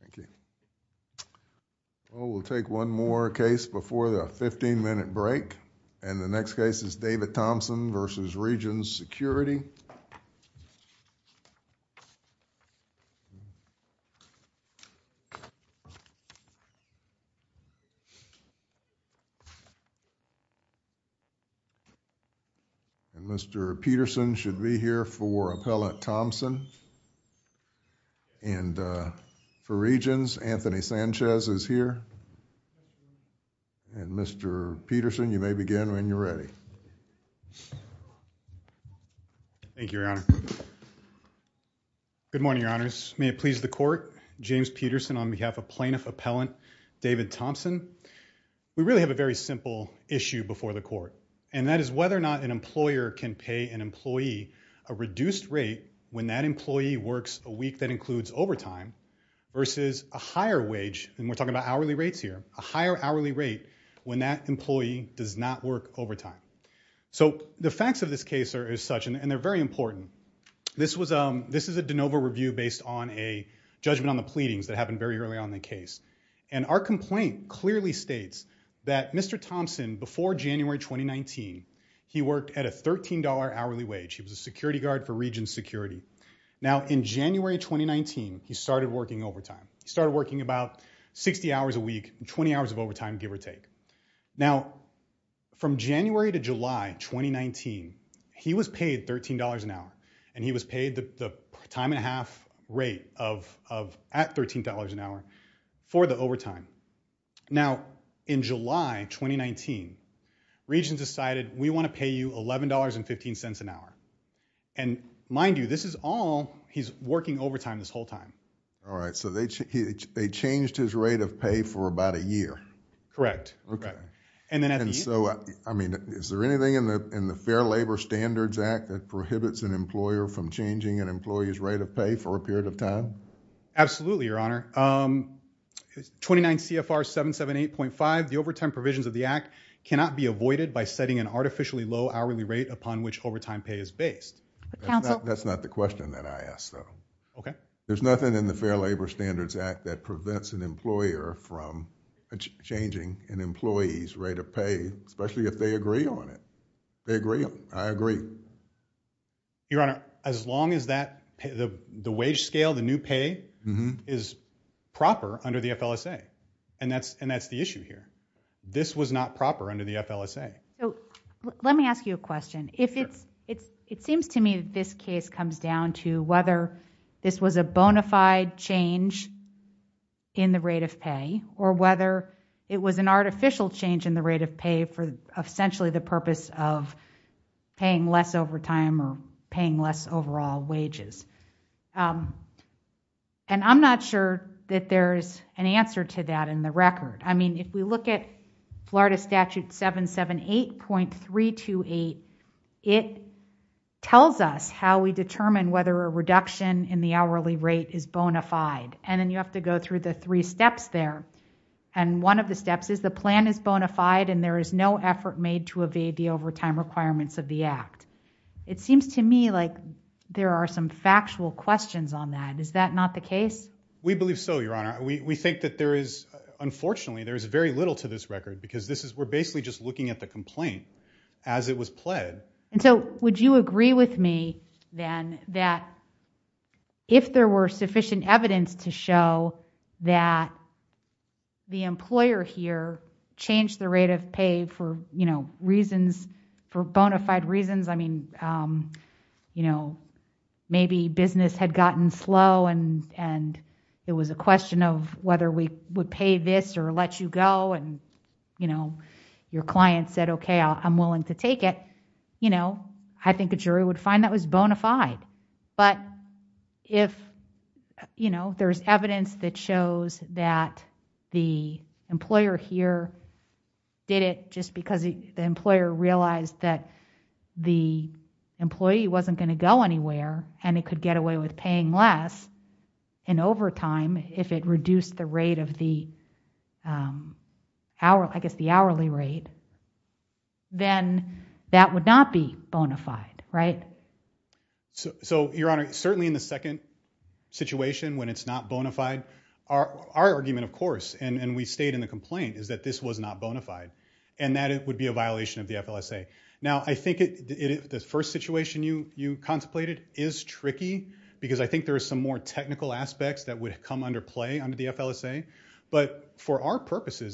Thank you. Well, we'll take one more case before the 15-minute break, and the next case is David Thompson v. Regions Security. And Mr. Peterson should be here for Appellant Thompson. And for Regions, Anthony Sanchez is here. And Mr. Peterson, you may begin when you're ready. Thank you, Your Honor. Good morning, Your Honors. May it please the Court, James Peterson on behalf of Plaintiff Appellant David Thompson. We really have a very simple issue before the Court, and that is whether or not an employer can pay an employee a reduced rate when that employee works a week that includes overtime versus a higher wage, and we're talking about hourly rates here, a higher hourly rate when that employee does not work overtime. So the facts of this case are as such, and they're very important. This is a de novo review based on a judgment on the pleadings that happened very early on in the case. And our complaint clearly states that Mr. Thompson, before January 2019, he worked at a $13 hourly wage. He was a security for Regions Security. Now, in January 2019, he started working overtime. He started working about 60 hours a week, 20 hours of overtime, give or take. Now, from January to July 2019, he was paid $13 an hour, and he was paid the time and a half rate at $13 an hour for the overtime. Now, in July 2019, Regions decided, we want to pay you $11.15 an hour. And mind you, this is all, he's working overtime this whole time. All right. So they changed his rate of pay for about a year. Correct. Okay. And then at the end. And so, I mean, is there anything in the Fair Labor Standards Act that prohibits an employer from changing an employee's rate of pay for a period of time? Absolutely, Your Honor. 29 CFR 778.5, the overtime provisions of the act cannot be avoided by setting an artificially low hourly rate upon which overtime pay is based. That's not the question that I asked, though. Okay. There's nothing in the Fair Labor Standards Act that prevents an employer from changing an employee's rate of pay, especially if they agree on it. They agree. I agree. Your Honor, as long as that, the wage scale, the new pay is proper under the FLSA. And that's the issue here. This was not proper under the FLSA. Let me ask you a question. It seems to me that this case comes down to whether this was a bona fide change in the rate of pay, or whether it was an artificial change in the rate of pay for essentially the purpose of paying less overtime or paying less overall wages. And I'm not sure that there's an answer to that in the record. I mean, if we look at Florida Statute 778.328, it tells us how we determine whether a reduction in the hourly rate is bona fide. And then you have to go through the is the plan is bona fide and there is no effort made to evade the overtime requirements of the act. It seems to me like there are some factual questions on that. Is that not the case? We believe so, Your Honor. We think that there is, unfortunately, there is very little to this record because this is we're basically just looking at the complaint as it was pled. And so would you agree with me then that if there were sufficient evidence to show that the employer here changed the rate of pay for, you know, reasons, for bona fide reasons, I mean, you know, maybe business had gotten slow and it was a question of whether we would pay this or let you go. And, you know, your client said, okay, I'm willing to take it. You know, I think would find that was bona fide. But if, you know, there's evidence that shows that the employer here did it just because the employer realized that the employee wasn't going to go anywhere and it could get away with paying less in overtime if it reduced the rate of the hour, I guess the hourly rate, then that would not be bona fide, right? So, Your Honor, certainly in the second situation when it's not bona fide, our argument, of course, and we stayed in the complaint is that this was not bona fide and that it would be a violation of the FLSA. Now, I think the first situation you contemplated is tricky because I think there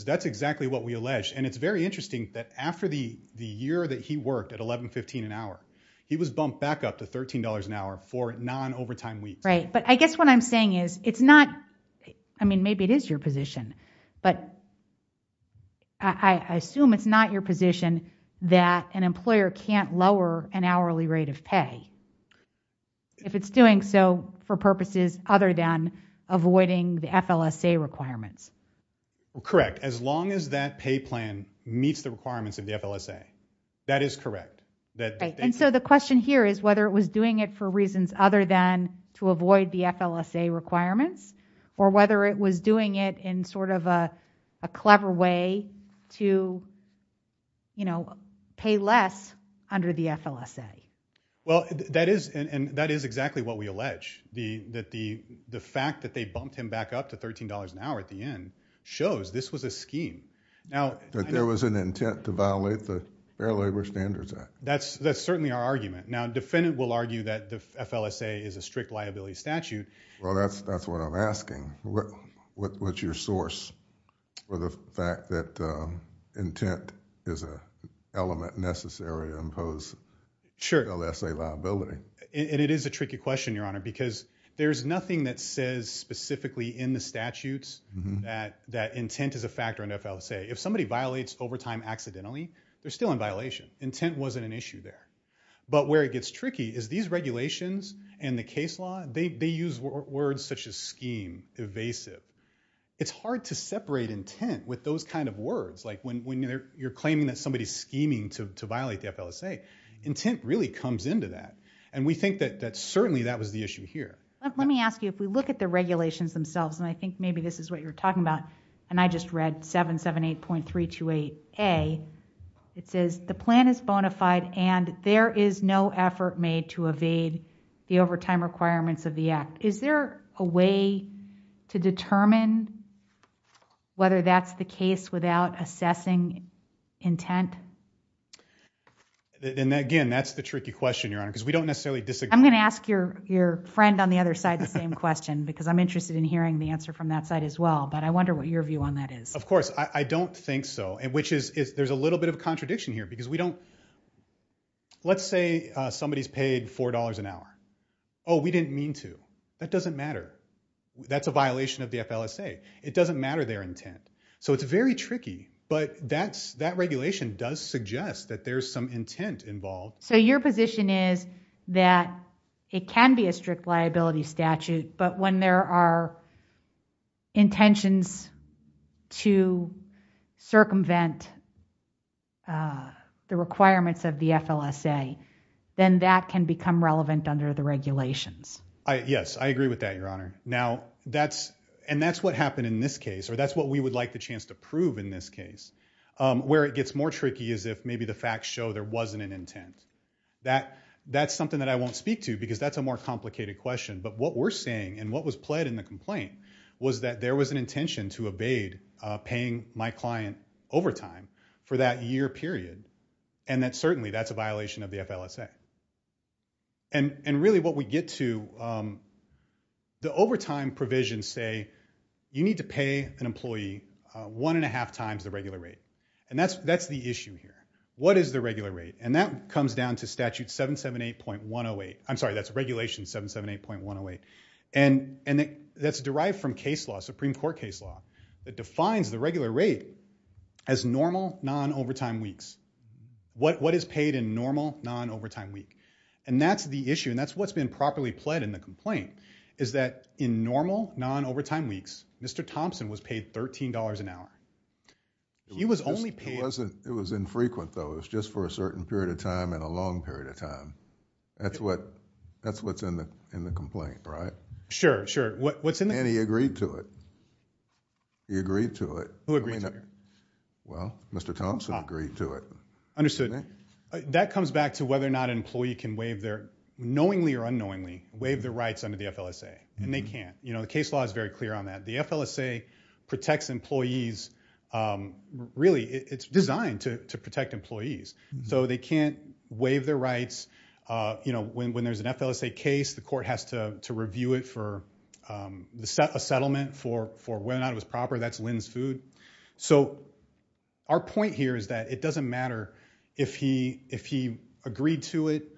that's exactly what we alleged. And it's very interesting that after the year that he worked at $11.15 an hour, he was bumped back up to $13 an hour for non-overtime weeks. Right. But I guess what I'm saying is it's not, I mean, maybe it is your position, but I assume it's not your position that an employer can't lower an hourly rate of pay if it's doing so for purposes other than avoiding the FLSA requirements. Correct. As long as that pay plan meets the requirements of the FLSA, that is correct. And so the question here is whether it was doing it for reasons other than to avoid the FLSA requirements or whether it was doing it in sort of a clever way to, you know, pay less under the FLSA. Well, that is and that is exactly what we allege. That the fact that they bumped him back up to $13 an hour at the end shows this was a scheme. Now, there was an intent to violate the Fair Labor Standards Act. That's certainly our argument. Now, a defendant will argue that the FLSA is a strict liability statute. Well, that's what I'm asking. What's your source for the fact that intent is an element necessary to impose FLSA liability? Sure. And it is a tricky question, Your Honor, because there's nothing that says specifically in the statutes that intent is a factor in FLSA. If somebody violates overtime accidentally, they're still in violation. Intent wasn't an issue there. But where it gets tricky is these regulations and the case law, they use words such as scheme, evasive. It's hard to separate intent with those kind of words. Like when you're claiming that somebody's scheming to violate the FLSA, intent really comes into that. And we think that certainly that was the issue here. Let me ask you, if we look at the regulations themselves, and I think maybe this is what you're talking about, and I just read 778.328A, it says the plan is bona fide and there is no effort made to evade the overtime requirements of the act. Is there a way to determine whether that's the case without assessing intent? And again, that's the tricky question, because we don't necessarily disagree. I'm going to ask your friend on the other side the same question, because I'm interested in hearing the answer from that side as well. But I wonder what your view on that is. Of course, I don't think so. And which is, there's a little bit of contradiction here, because we don't, let's say somebody's paid $4 an hour. Oh, we didn't mean to. That doesn't matter. That's a violation of the FLSA. It doesn't matter their intent. So it's very tricky. But that regulation does suggest that there's some intent involved. So your position is that it can be a strict liability statute, but when there are intentions to circumvent the requirements of the FLSA, then that can become relevant under the regulations. Yes, I agree with that, Your Honor. Now, and that's what happened in this case, or that's what we would like the chance to prove in this case. Where it gets more tricky is if maybe the facts show there wasn't an intent. That's something that I won't speak to, because that's a more complicated question. But what we're saying, and what was pled in the complaint, was that there was an intention to evade paying my client overtime for that year period, and that certainly that's a violation of the FLSA. And really what we get to, the overtime provisions say you need to pay an employee one and a half times the regular rate. And that's the issue here. What is the regular rate? And that comes down to Statute 778.108. I'm sorry, that's Regulation 778.108. And that's derived from case law, Supreme Court case law, that defines the regular rate as normal non-overtime weeks. What is paid in normal non-overtime week? And that's the issue, and that's what's been properly pled in the complaint, is that in normal non-overtime weeks, Mr. Thompson was paid $13 an hour. He was only paid... It was infrequent though, it was just for a certain period of time and a long period of time. That's what's in the complaint, right? Sure, sure. And he agreed to it. He agreed to it. Who agreed to it? Well, Mr. Thompson agreed to it. Understood. That comes back to whether or not an employee can waive their, knowingly or unknowingly, waive their rights under the FLSA. And they can't. You know, the case law is very clear on that. The FLSA protects employees, really, it's designed to protect employees. So they can't waive their rights. You know, when there's an FLSA case, the court has to review it for a settlement for whether or not it was proper. That's Lin's food. So our point here is that it doesn't matter if he agreed to it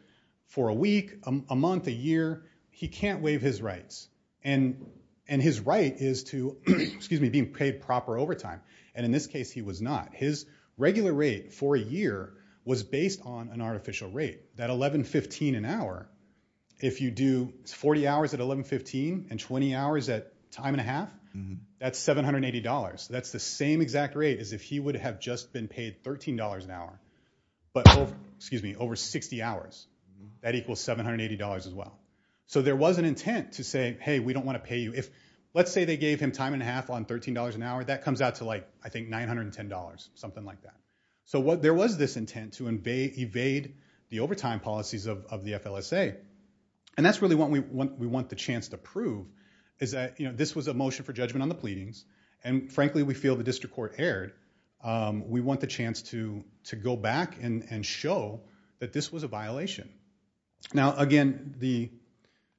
for a week, a month, a year, he can't waive his rights. And his right is to, excuse me, being paid proper overtime. And in this case, he was not. His regular rate for a year was based on an artificial rate, that $11.15 an hour. If you do 40 hours at $11.15 and 20 hours at time and a half, that's $780. That's the same exact rate as if he would have just been paid $13 an hour, but over, excuse me, over 60 hours, that equals $780 as well. So there was an intent to say, hey, we don't want to pay you. If, let's say they gave him time and a half on $13 an hour, that comes out to like, I think, $910, something like that. So there was this intent to evade the overtime policies of the FLSA. And that's really what we want the chance to prove, is that, you know, this was a motion for judgment on the pleadings. And frankly, we feel the district court erred. We want the chance to go back and show that this was a violation. Now, again, the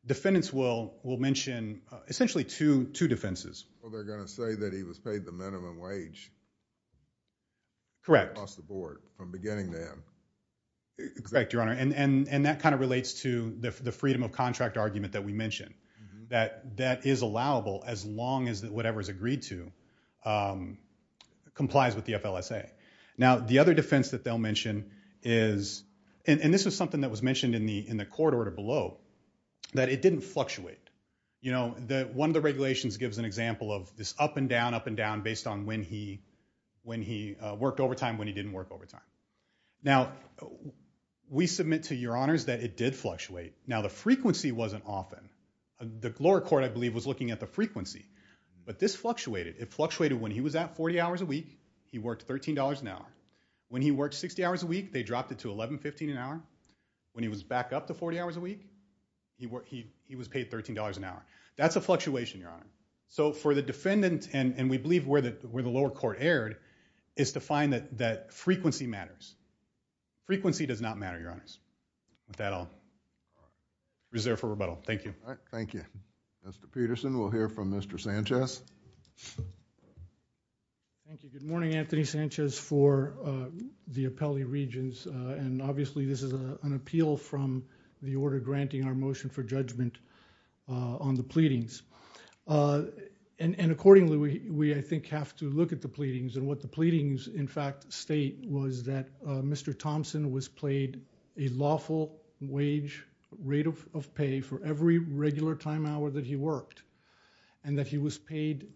defendants will mention essentially two defenses. Well, they're going to say that he was paid the minimum wage. Correct. Across the board, from beginning to end. Correct, Your Honor. And that kind of relates to the freedom of contract argument that we mentioned, that that is allowable as long as whatever is agreed to complies with the FLSA. Now, the other defense that they'll mention is, and this was something that was mentioned in the court order below, that it didn't fluctuate. You know, one of the regulations gives an example of this up and down, up and down, based on when he worked overtime, when he didn't work overtime. Now, we submit to Your Honors that it did fluctuate. Now, frequency wasn't often. The lower court, I believe, was looking at the frequency. But this fluctuated. It fluctuated when he was at 40 hours a week, he worked $13 an hour. When he worked 60 hours a week, they dropped it to $11.15 an hour. When he was back up to 40 hours a week, he was paid $13 an hour. That's a fluctuation, Your Honor. So for the defendant, and we believe where the lower court erred, is to find that frequency matters. Frequency does not matter, Your Honors. With that, I'll reserve for rebuttal. Thank you. All right. Thank you. Mr. Peterson, we'll hear from Mr. Sanchez. Thank you. Good morning, Anthony Sanchez, for the appellee regions. And obviously, this is an appeal from the order granting our motion for judgment on the pleadings. And accordingly, we, I think, have to look at the pleadings. And what the pleadings, in fact, state was that Mr. Thompson was paid a lawful wage rate of pay for every regular time hour that he worked, and that he was paid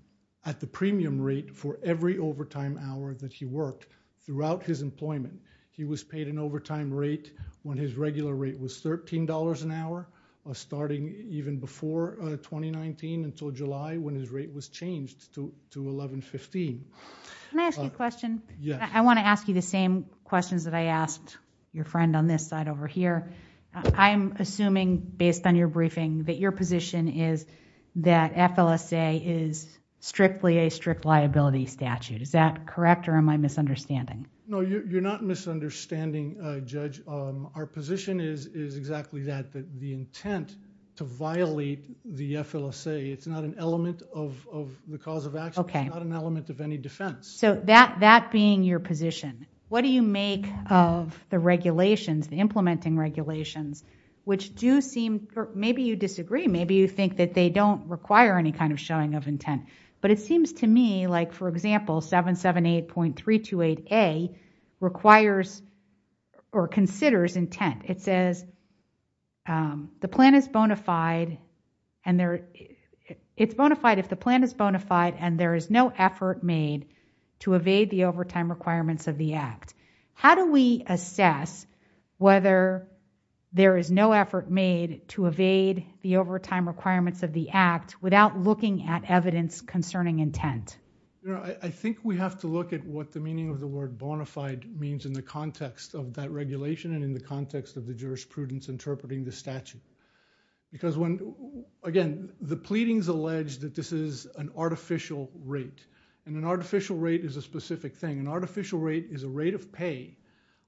at the premium rate for every overtime hour that he worked throughout his employment. He was paid an overtime rate when his regular rate was $13 an hour, starting even before 2019 until July, when his rate was changed to $11.15. Can I ask you a question? Yes. I want to ask you the same questions that I asked your friend on this side over here. I'm assuming, based on your briefing, that your position is that FLSA is strictly a strict liability statute. Is that correct, or am I misunderstanding? No, you're not misunderstanding, Judge. Our position is exactly that, that the intent to violate the FLSA, it's not an element of the cause of action. It's not an element of any defense. So that being your position, what do you make of the regulations, the implementing regulations, which do seem, maybe you disagree, maybe you think that they don't require any kind of showing of intent. But it seems to me like, for example, 778.328A requires or considers intent. It says the plan is bona fide and there, it's bona fide if the plan is bona fide and there is no effort made to evade the overtime requirements of the act. How do we assess whether there is no effort made to evade the overtime requirements of the act without looking at evidence concerning intent? You know, I think we have to look at what the meaning of the word bona fide means in the jurisprudence interpreting the statute. Because when, again, the pleadings allege that this is an artificial rate, and an artificial rate is a specific thing. An artificial rate is a rate of pay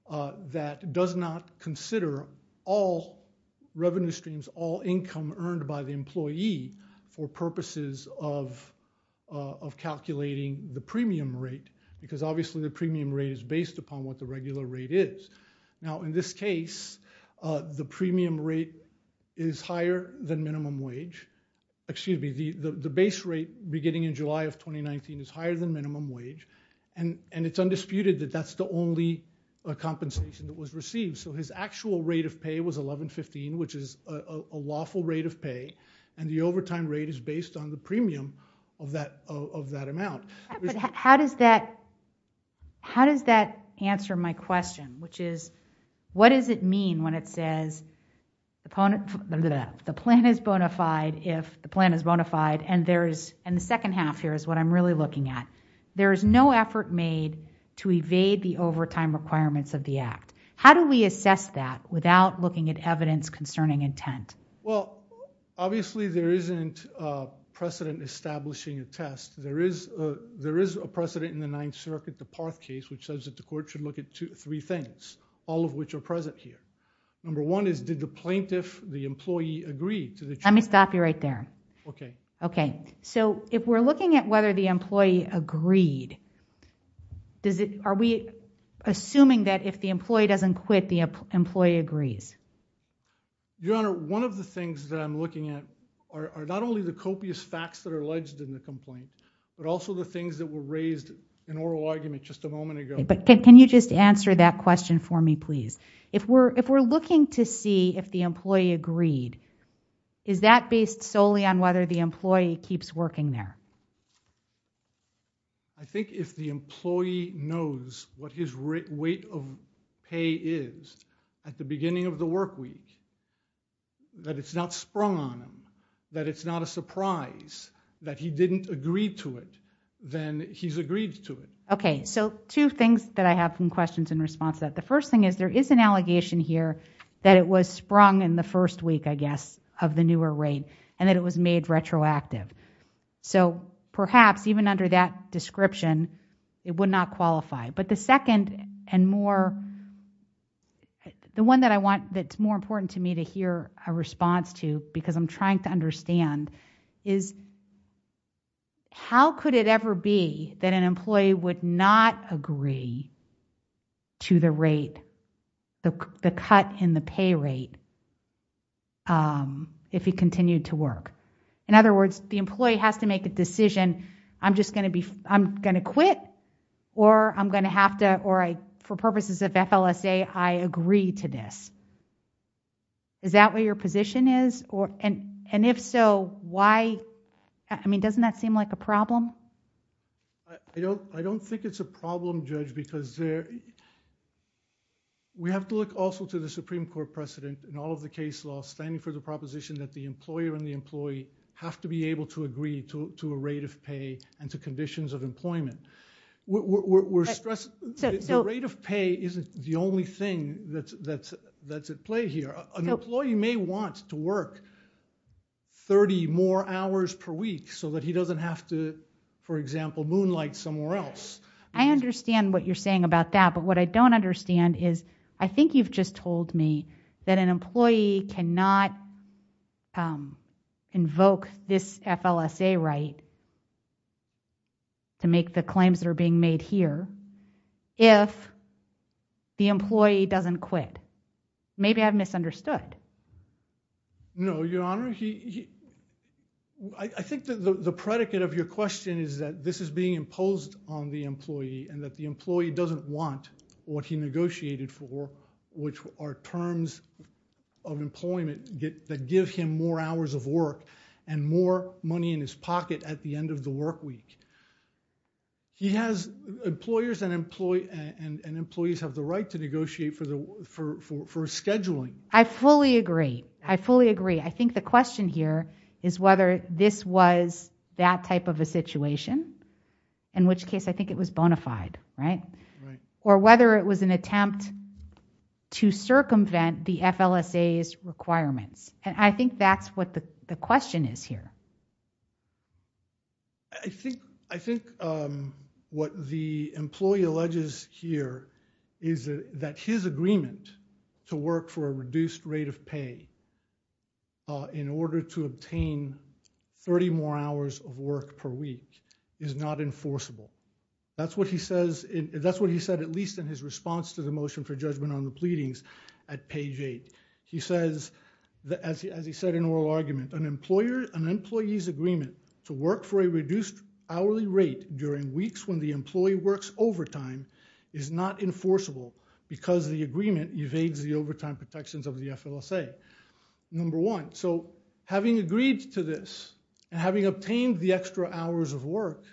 that does not consider all revenue streams, all income earned by the employee for purposes of calculating the premium rate, because obviously the premium rate is based upon what the regular rate is. Now in this case, the premium rate is higher than minimum wage, excuse me, the base rate beginning in July of 2019 is higher than minimum wage, and it's undisputed that that's the only compensation that was received. So his actual rate of pay was 1115, which is a lawful rate of pay, and the overtime rate is based on the premium of that amount. But how does that, answer my question, which is what does it mean when it says the plan is bona fide if the plan is bona fide, and there's, and the second half here is what I'm really looking at. There is no effort made to evade the overtime requirements of the act. How do we assess that without looking at evidence concerning intent? Well, obviously there isn't a precedent establishing a test. There is, a precedent in the Ninth Circuit, the Parth case, which says that the court should look at three things, all of which are present here. Number one is, did the plaintiff, the employee, agree to the charge? Let me stop you right there. Okay. Okay, so if we're looking at whether the employee agreed, does it, are we assuming that if the employee doesn't quit, the employee agrees? Your Honor, one of the things that I'm looking at are not only the copious facts that are alleged in the complaint, but also the things that were raised in oral argument just a moment ago. But can you just answer that question for me, please? If we're, if we're looking to see if the employee agreed, is that based solely on whether the employee keeps working there? I think if the employee knows what his weight of pay is at the beginning of the work week, that it's not sprung on him, that it's not a surprise that he didn't agree to it, then he's agreed to it. Okay, so two things that I have some questions in response to that. The first thing is, there is an allegation here that it was sprung in the first week, I guess, of the newer rate, and that it was made retroactive. So perhaps even under that description, it would not qualify. But the second and more, the one that I want, that's more important to me to hear a response to, because I'm trying to understand, is how could it ever be that an employee would not agree to the rate, the cut in the pay rate, if he continued to work? In other words, the employee has to make a decision, I'm just going to quit, or I'm going to have to, or for purposes of FLSA, I agree to this. Is that what your position is? And if so, why? I mean, doesn't that seem like a problem? I don't think it's a problem, Judge, because we have to look also to the Supreme Court precedent in all of the case law, standing for the proposition that the employer and the employee have to be able to agree to a rate of pay and to conditions of employment. The rate of pay isn't the only thing that's at play here. An employee may want to work 30 more hours per week so that he doesn't have to, for example, moonlight somewhere else. I understand what you're saying about that, but what I don't understand is, I think you've just told me that an employee cannot invoke this FLSA right to make the claims that are being made here if the employee doesn't quit. Maybe I've misunderstood. No, Your Honor, I think the predicate of your question is that this is being imposed on the employee and that the employee doesn't want what he negotiated for, which are terms of employment that give him more hours of work and more money in his pocket at the end of the work week. Employers and employees have the right to negotiate for scheduling. I fully agree. I fully agree. I think the question here is whether this was that type of a situation in which case I think it was bona fide, or whether it was an attempt to circumvent the FLSA's requirements. I think that's what the question is here. I think what the employee alleges here is that his agreement to work for a reduced rate of pay in order to obtain 30 more hours of work per week is not enforceable. That's what he says, that's what he said at least in his response to the motion for judgment on the pleadings at page eight. He says, as he said in oral argument, an employee's agreement to work for a reduced hourly rate during weeks when the employee works overtime is not enforceable because the agreement evades the overtime protections of the FLSA. Number one, so having agreed to this and having obtained the extra hours of work,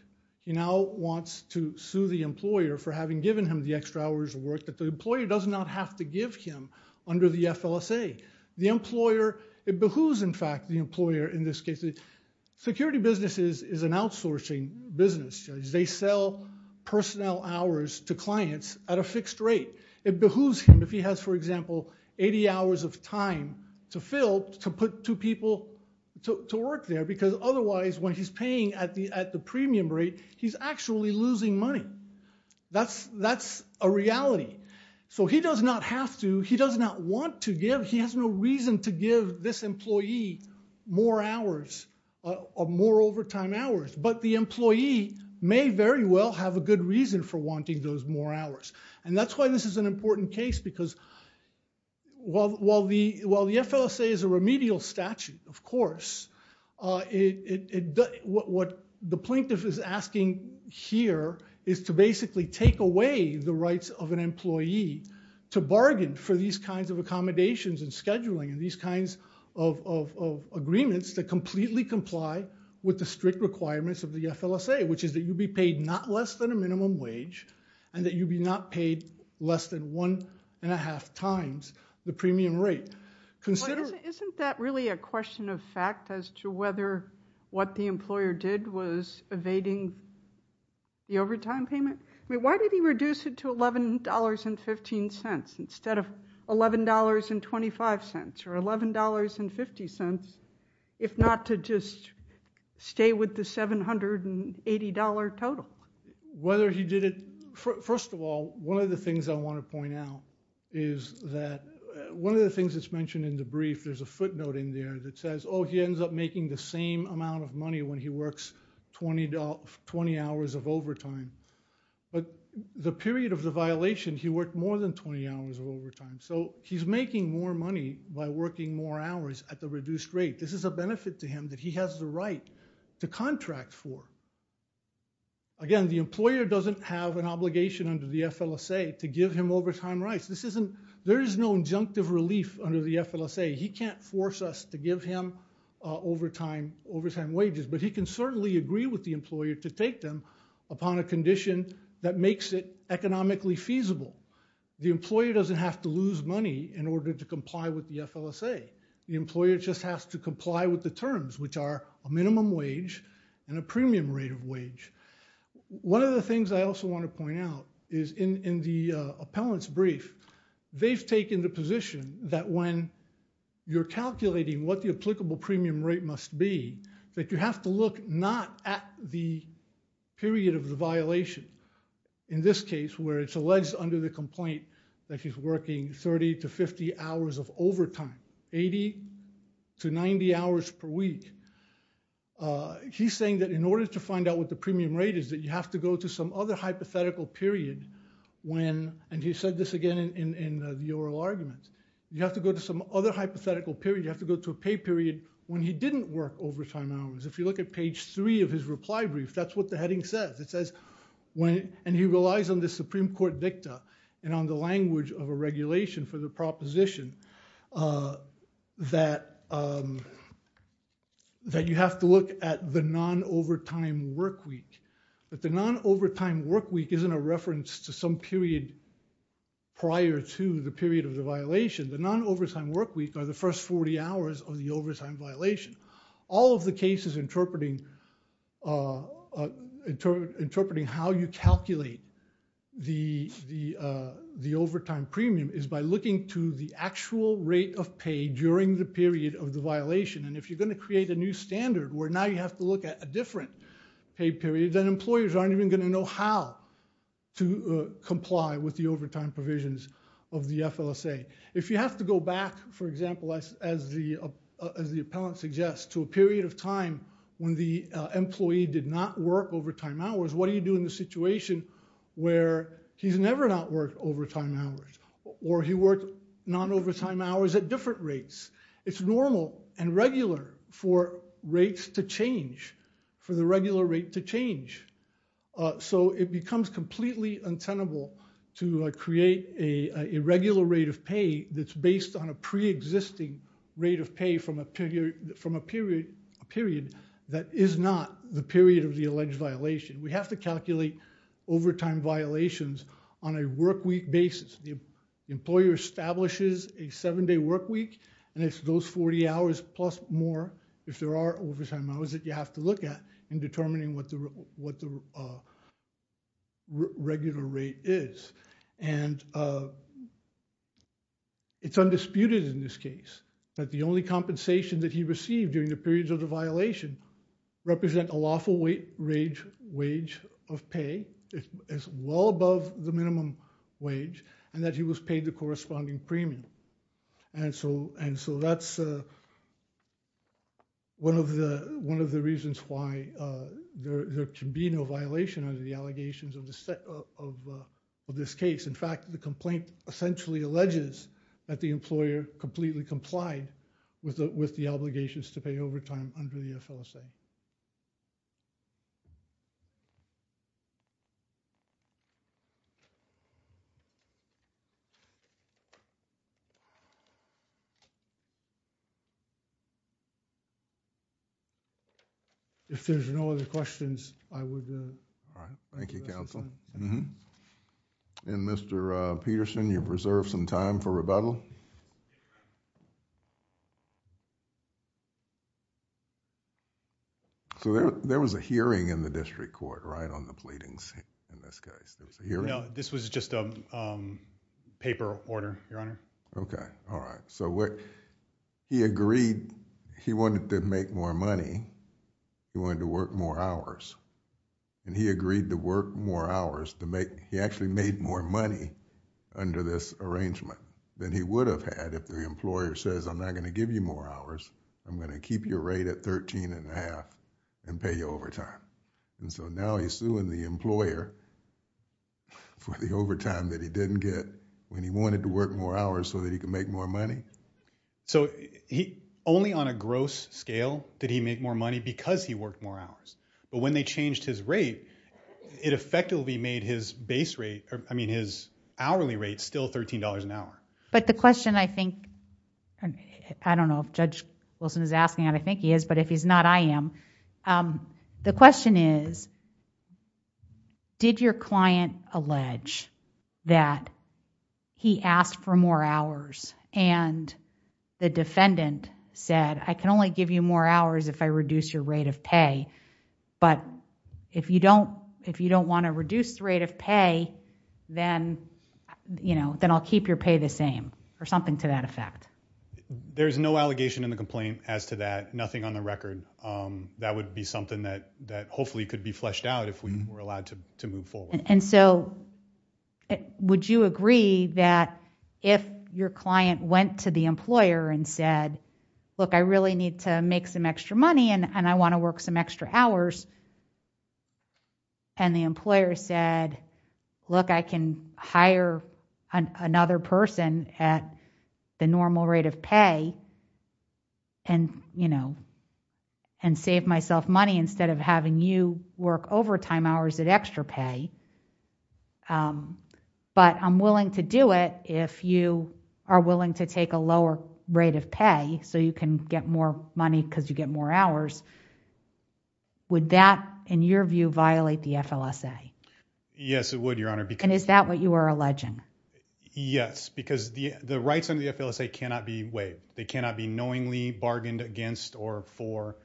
he now wants to sue the employer for having given him the extra hours of work that the employer does not have to give him under the FLSA. The employer, it behooves in fact the employer in this case. Security businesses is an outsourcing business. They sell personnel hours to clients at a fixed rate. It behooves him if he has for example 80 hours of time to fill to put two people to work there because otherwise when he's paying at the at the premium rate he's actually losing money. That's a reality. So he does not have to, he does not want to give, he has no reason to give this employee more hours, more overtime hours, but the employee may very well have a good reason for wanting those more hours. And that's why this is an important case because while the FLSA is a remedial statute of course, what the plaintiff is asking here is to basically take away the rights of an employee to bargain for these kinds of accommodations and scheduling and these kinds of agreements that completely comply with the strict requirements of the FLSA, which is that not less than a minimum wage and that you be not paid less than one and a half times the premium rate. Isn't that really a question of fact as to whether what the employer did was evading the overtime payment? I mean why did he reduce it to $11.15 instead of $11.25 or $11.50 if not to just stay with the $780 total? Whether he did it, first of all one of the things I want to point out is that one of the things that's mentioned in the brief there's a footnote in there that says oh he ends up making the same amount of money when he works 20 hours of overtime but the period of the violation he worked more than 20 hours of overtime. So he's making more hours at the reduced rate. This is a benefit to him that he has the right to contract for. Again, the employer doesn't have an obligation under the FLSA to give him overtime rights. This isn't, there is no injunctive relief under the FLSA. He can't force us to give him overtime wages, but he can certainly agree with the employer to take them upon a condition that makes it economically feasible. The employer doesn't have to lose money in order to comply with the FLSA. The employer just has to comply with the terms which are a minimum wage and a premium rate of wage. One of the things I also want to point out is in the appellant's brief, they've taken the position that when you're calculating what the applicable premium rate must be that you have to look not at the period of the violation. In this case where it's alleged under the complaint that he's working 30 to 50 hours of overtime, 80 to 90 hours per week, he's saying that in order to find out what the premium rate is that you have to go to some other hypothetical period when, and he said this again in the oral argument, you have to go to some other hypothetical period. You have to go to a pay period when he didn't work overtime hours. If you look at page three of his reply brief, that's what the heading says. It says and he relies on the Supreme Court dicta and on the language of a regulation for the proposition that you have to look at the non-overtime work week. But the non-overtime work week isn't a reference to some period prior to the period of the violation. The non-overtime work are the first 40 hours of the overtime violation. All of the cases interpreting how you calculate the overtime premium is by looking to the actual rate of pay during the period of the violation and if you're going to create a new standard where now you have to look at a different pay period, then employers aren't even going to know how to comply with the overtime provisions of the FLSA. If you have to go back, for example, as the appellant suggests to a period of time when the employee did not work overtime hours, what do you do in the situation where he's never not worked overtime hours or he worked non-overtime hours at different rates? It's normal and regular for rates to change, for the regular rate to change. So it becomes completely untenable to create an irregular rate of pay that's based on a pre-existing rate of pay from a period that is not the period of the alleged violation. We have to calculate overtime violations on a work week basis. The employer establishes a seven-day work week and it's those 40 hours plus more if there are overtime hours that you have to look at in determining what the regular rate is. And it's undisputed in this case that the only compensation that he received during the periods of the violation represent a lawful wage of pay as well above the minimum wage and that he was paid the corresponding premium. And so that's one of the reasons why there can be no violation under the allegations of this case. In fact, the complaint essentially alleges that the employer completely complied with the obligations to pay overtime under the FLSA. If there's no other questions, I would. All right. Thank you, counsel. And Mr. Peterson, you've reserved some time for rebuttal. So there was a hearing in the district court, right, on the pleadings in this case? There was a hearing? No, this was just a paper order, Your Honor. Okay. All right. So he agreed, he wanted to make more money, he wanted to work more hours. And he agreed to work more hours to make... he actually made more money under this arrangement than he would have had if the employer says, I'm not going to give you more hours, I'm going to keep your rate at thirteen and a half and pay you overtime. And so now he's suing the employer for the overtime that he didn't get when he wanted to work more hours so that he could make more money. So only on a gross scale did he make more money because he worked more hours. But when they changed his rate, it effectively made his base rate, I mean, his hourly rate still $13 an hour. But the question I think, I don't know if Judge Wilson is asking, I think he is, but if he's not, I am. The question is, did your client allege that he asked for more hours and the defendant said, I can only give you more hours if I reduce your rate of pay. But if you don't want to reduce the rate of pay, then I'll keep your pay the same, or something to that effect. There's no allegation in the complaint as to that, nothing on the record. That would be something that hopefully could be fleshed out if we were allowed to move forward. And so would you agree that if your client went to the employer and said, look, I really need to make some extra money and I want to work some extra hours. And the employer said, look, I can hire another person at the normal rate of pay and save myself money instead of having you work overtime hours at extra pay. But I'm willing to do it if you are willing to take a lower rate of pay so you can get more money because you get more hours. Would that, in your view, violate the FLSA? Yes, it would, Your Honor. And is that what you are alleging? Yes, because the rights under the FLSA cannot be waived. They cannot be knowingly bargained against or for.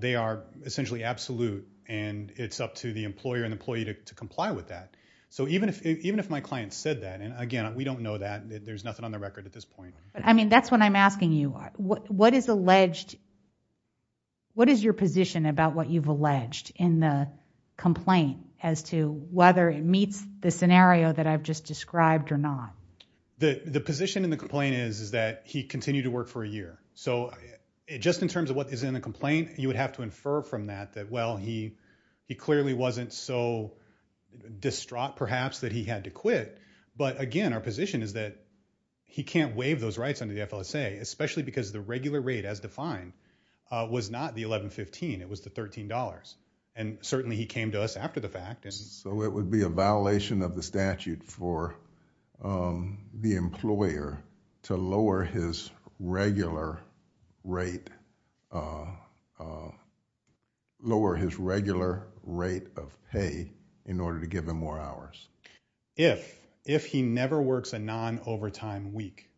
They are essentially absolute and it's up to the employer and employee to comply with them. So even if my client said that, and again, we don't know that, there's nothing on the record at this point. I mean, that's what I'm asking you. What is your position about what you've alleged in the complaint as to whether it meets the scenario that I've just described or not? The position in the complaint is that he continued to work for a year. So just in terms of what is in the complaint, you would have to infer from that that, well, he clearly wasn't so distraught, perhaps, that he had to quit. But again, our position is that he can't waive those rights under the FLSA, especially because the regular rate as defined was not the $11.15, it was the $13. And certainly he came to us after the fact. So it would be a violation of the statute for the employer to lower his regular rate, lower his regular rate of pay in order to give him more hours. If, if he never works a non-overtime week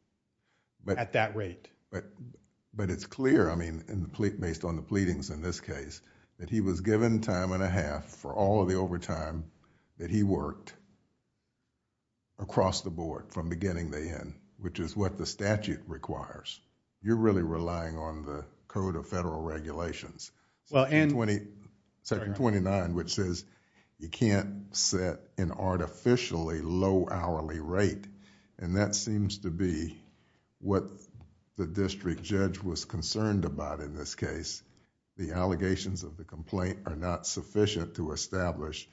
at that rate. But it's clear, I mean, based on the pleadings in this case, that he was given time and a half for all of the overtime that he worked across the board from beginning to end, which is what the statute requires. You're really relying on the Code of Federal Regulations, Section 29, which says you can't set an artificially low hourly rate. And that seems to be what the district judge was concerned about in this case. The allegations of the complaint are not sufficient to establish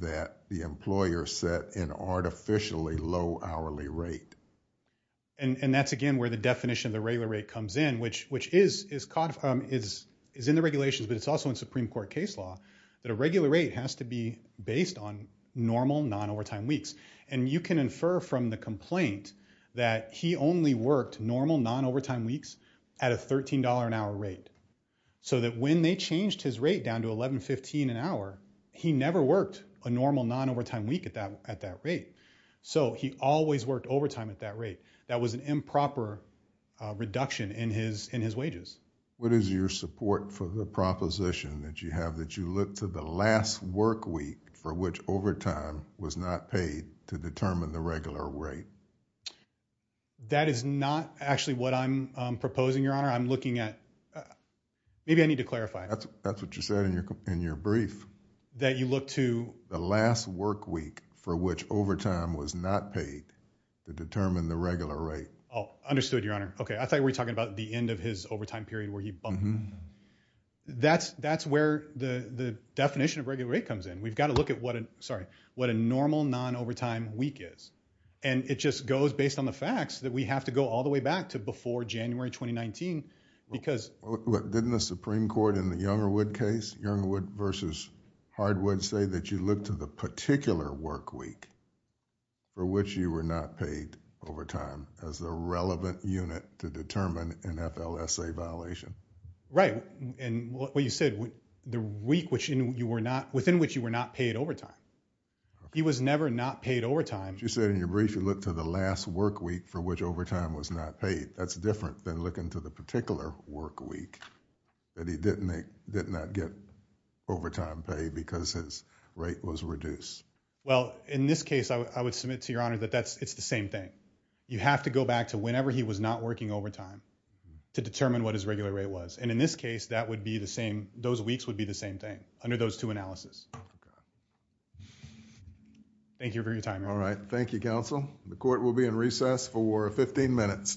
that the employer set an artificially low hourly rate. And, and that's again where the definition of the regular rate comes in, which, which is, is caught, is, is in the regulations, but it's also in Supreme Court case law, that a regular rate has to be based on normal non-overtime weeks. And you can infer from the complaint that he only worked normal non-overtime weeks at a $13 an hour rate. So that when they changed his rate down to $11.15 an hour, he never worked a normal non-overtime week at that, at that rate. So he always worked overtime at that rate. That was an improper reduction in his, in his wages. What is your support for the proposition that you have that you look to the last work week for which overtime was not paid to determine the regular rate? That is not actually what I'm proposing, Your Honor. I'm looking at, maybe I need to clarify. That's what you said in your, in your brief. That you look to the last work week for which overtime was not paid to determine the regular rate. Oh, understood, Your Honor. Okay. I thought you were talking about the end of his overtime period where he bumped. That's, that's where the, the definition of regular rate comes in. We've got to look at what a, sorry, what a normal non-overtime week is. And it just goes based on the facts that we have to go all the way back to before January 2019. Because. Didn't the Supreme Court in the Youngerwood case, Youngerwood versus Hardwood say that you look to the particular work week for which you were not paid overtime as a relevant unit to determine an FLSA violation? Right. And what you said, the week which you were not, within which you were not paid overtime. He was never not paid overtime. You said in your brief, you look to the last work week for which overtime was not paid. That's different than looking to the particular work week that he didn't make, did not get overtime paid because his rate was reduced. Well, in this case, I would submit to Your Honor that that's, it's the same thing. You have to go back to whenever he was not working overtime to determine what his regular rate was. And in this case, that would be the same, those weeks would be the same thing under those two analysis. Thank you for your time. All right. Thank you, counsel. The court will be in recess for 15 minutes. Thank you.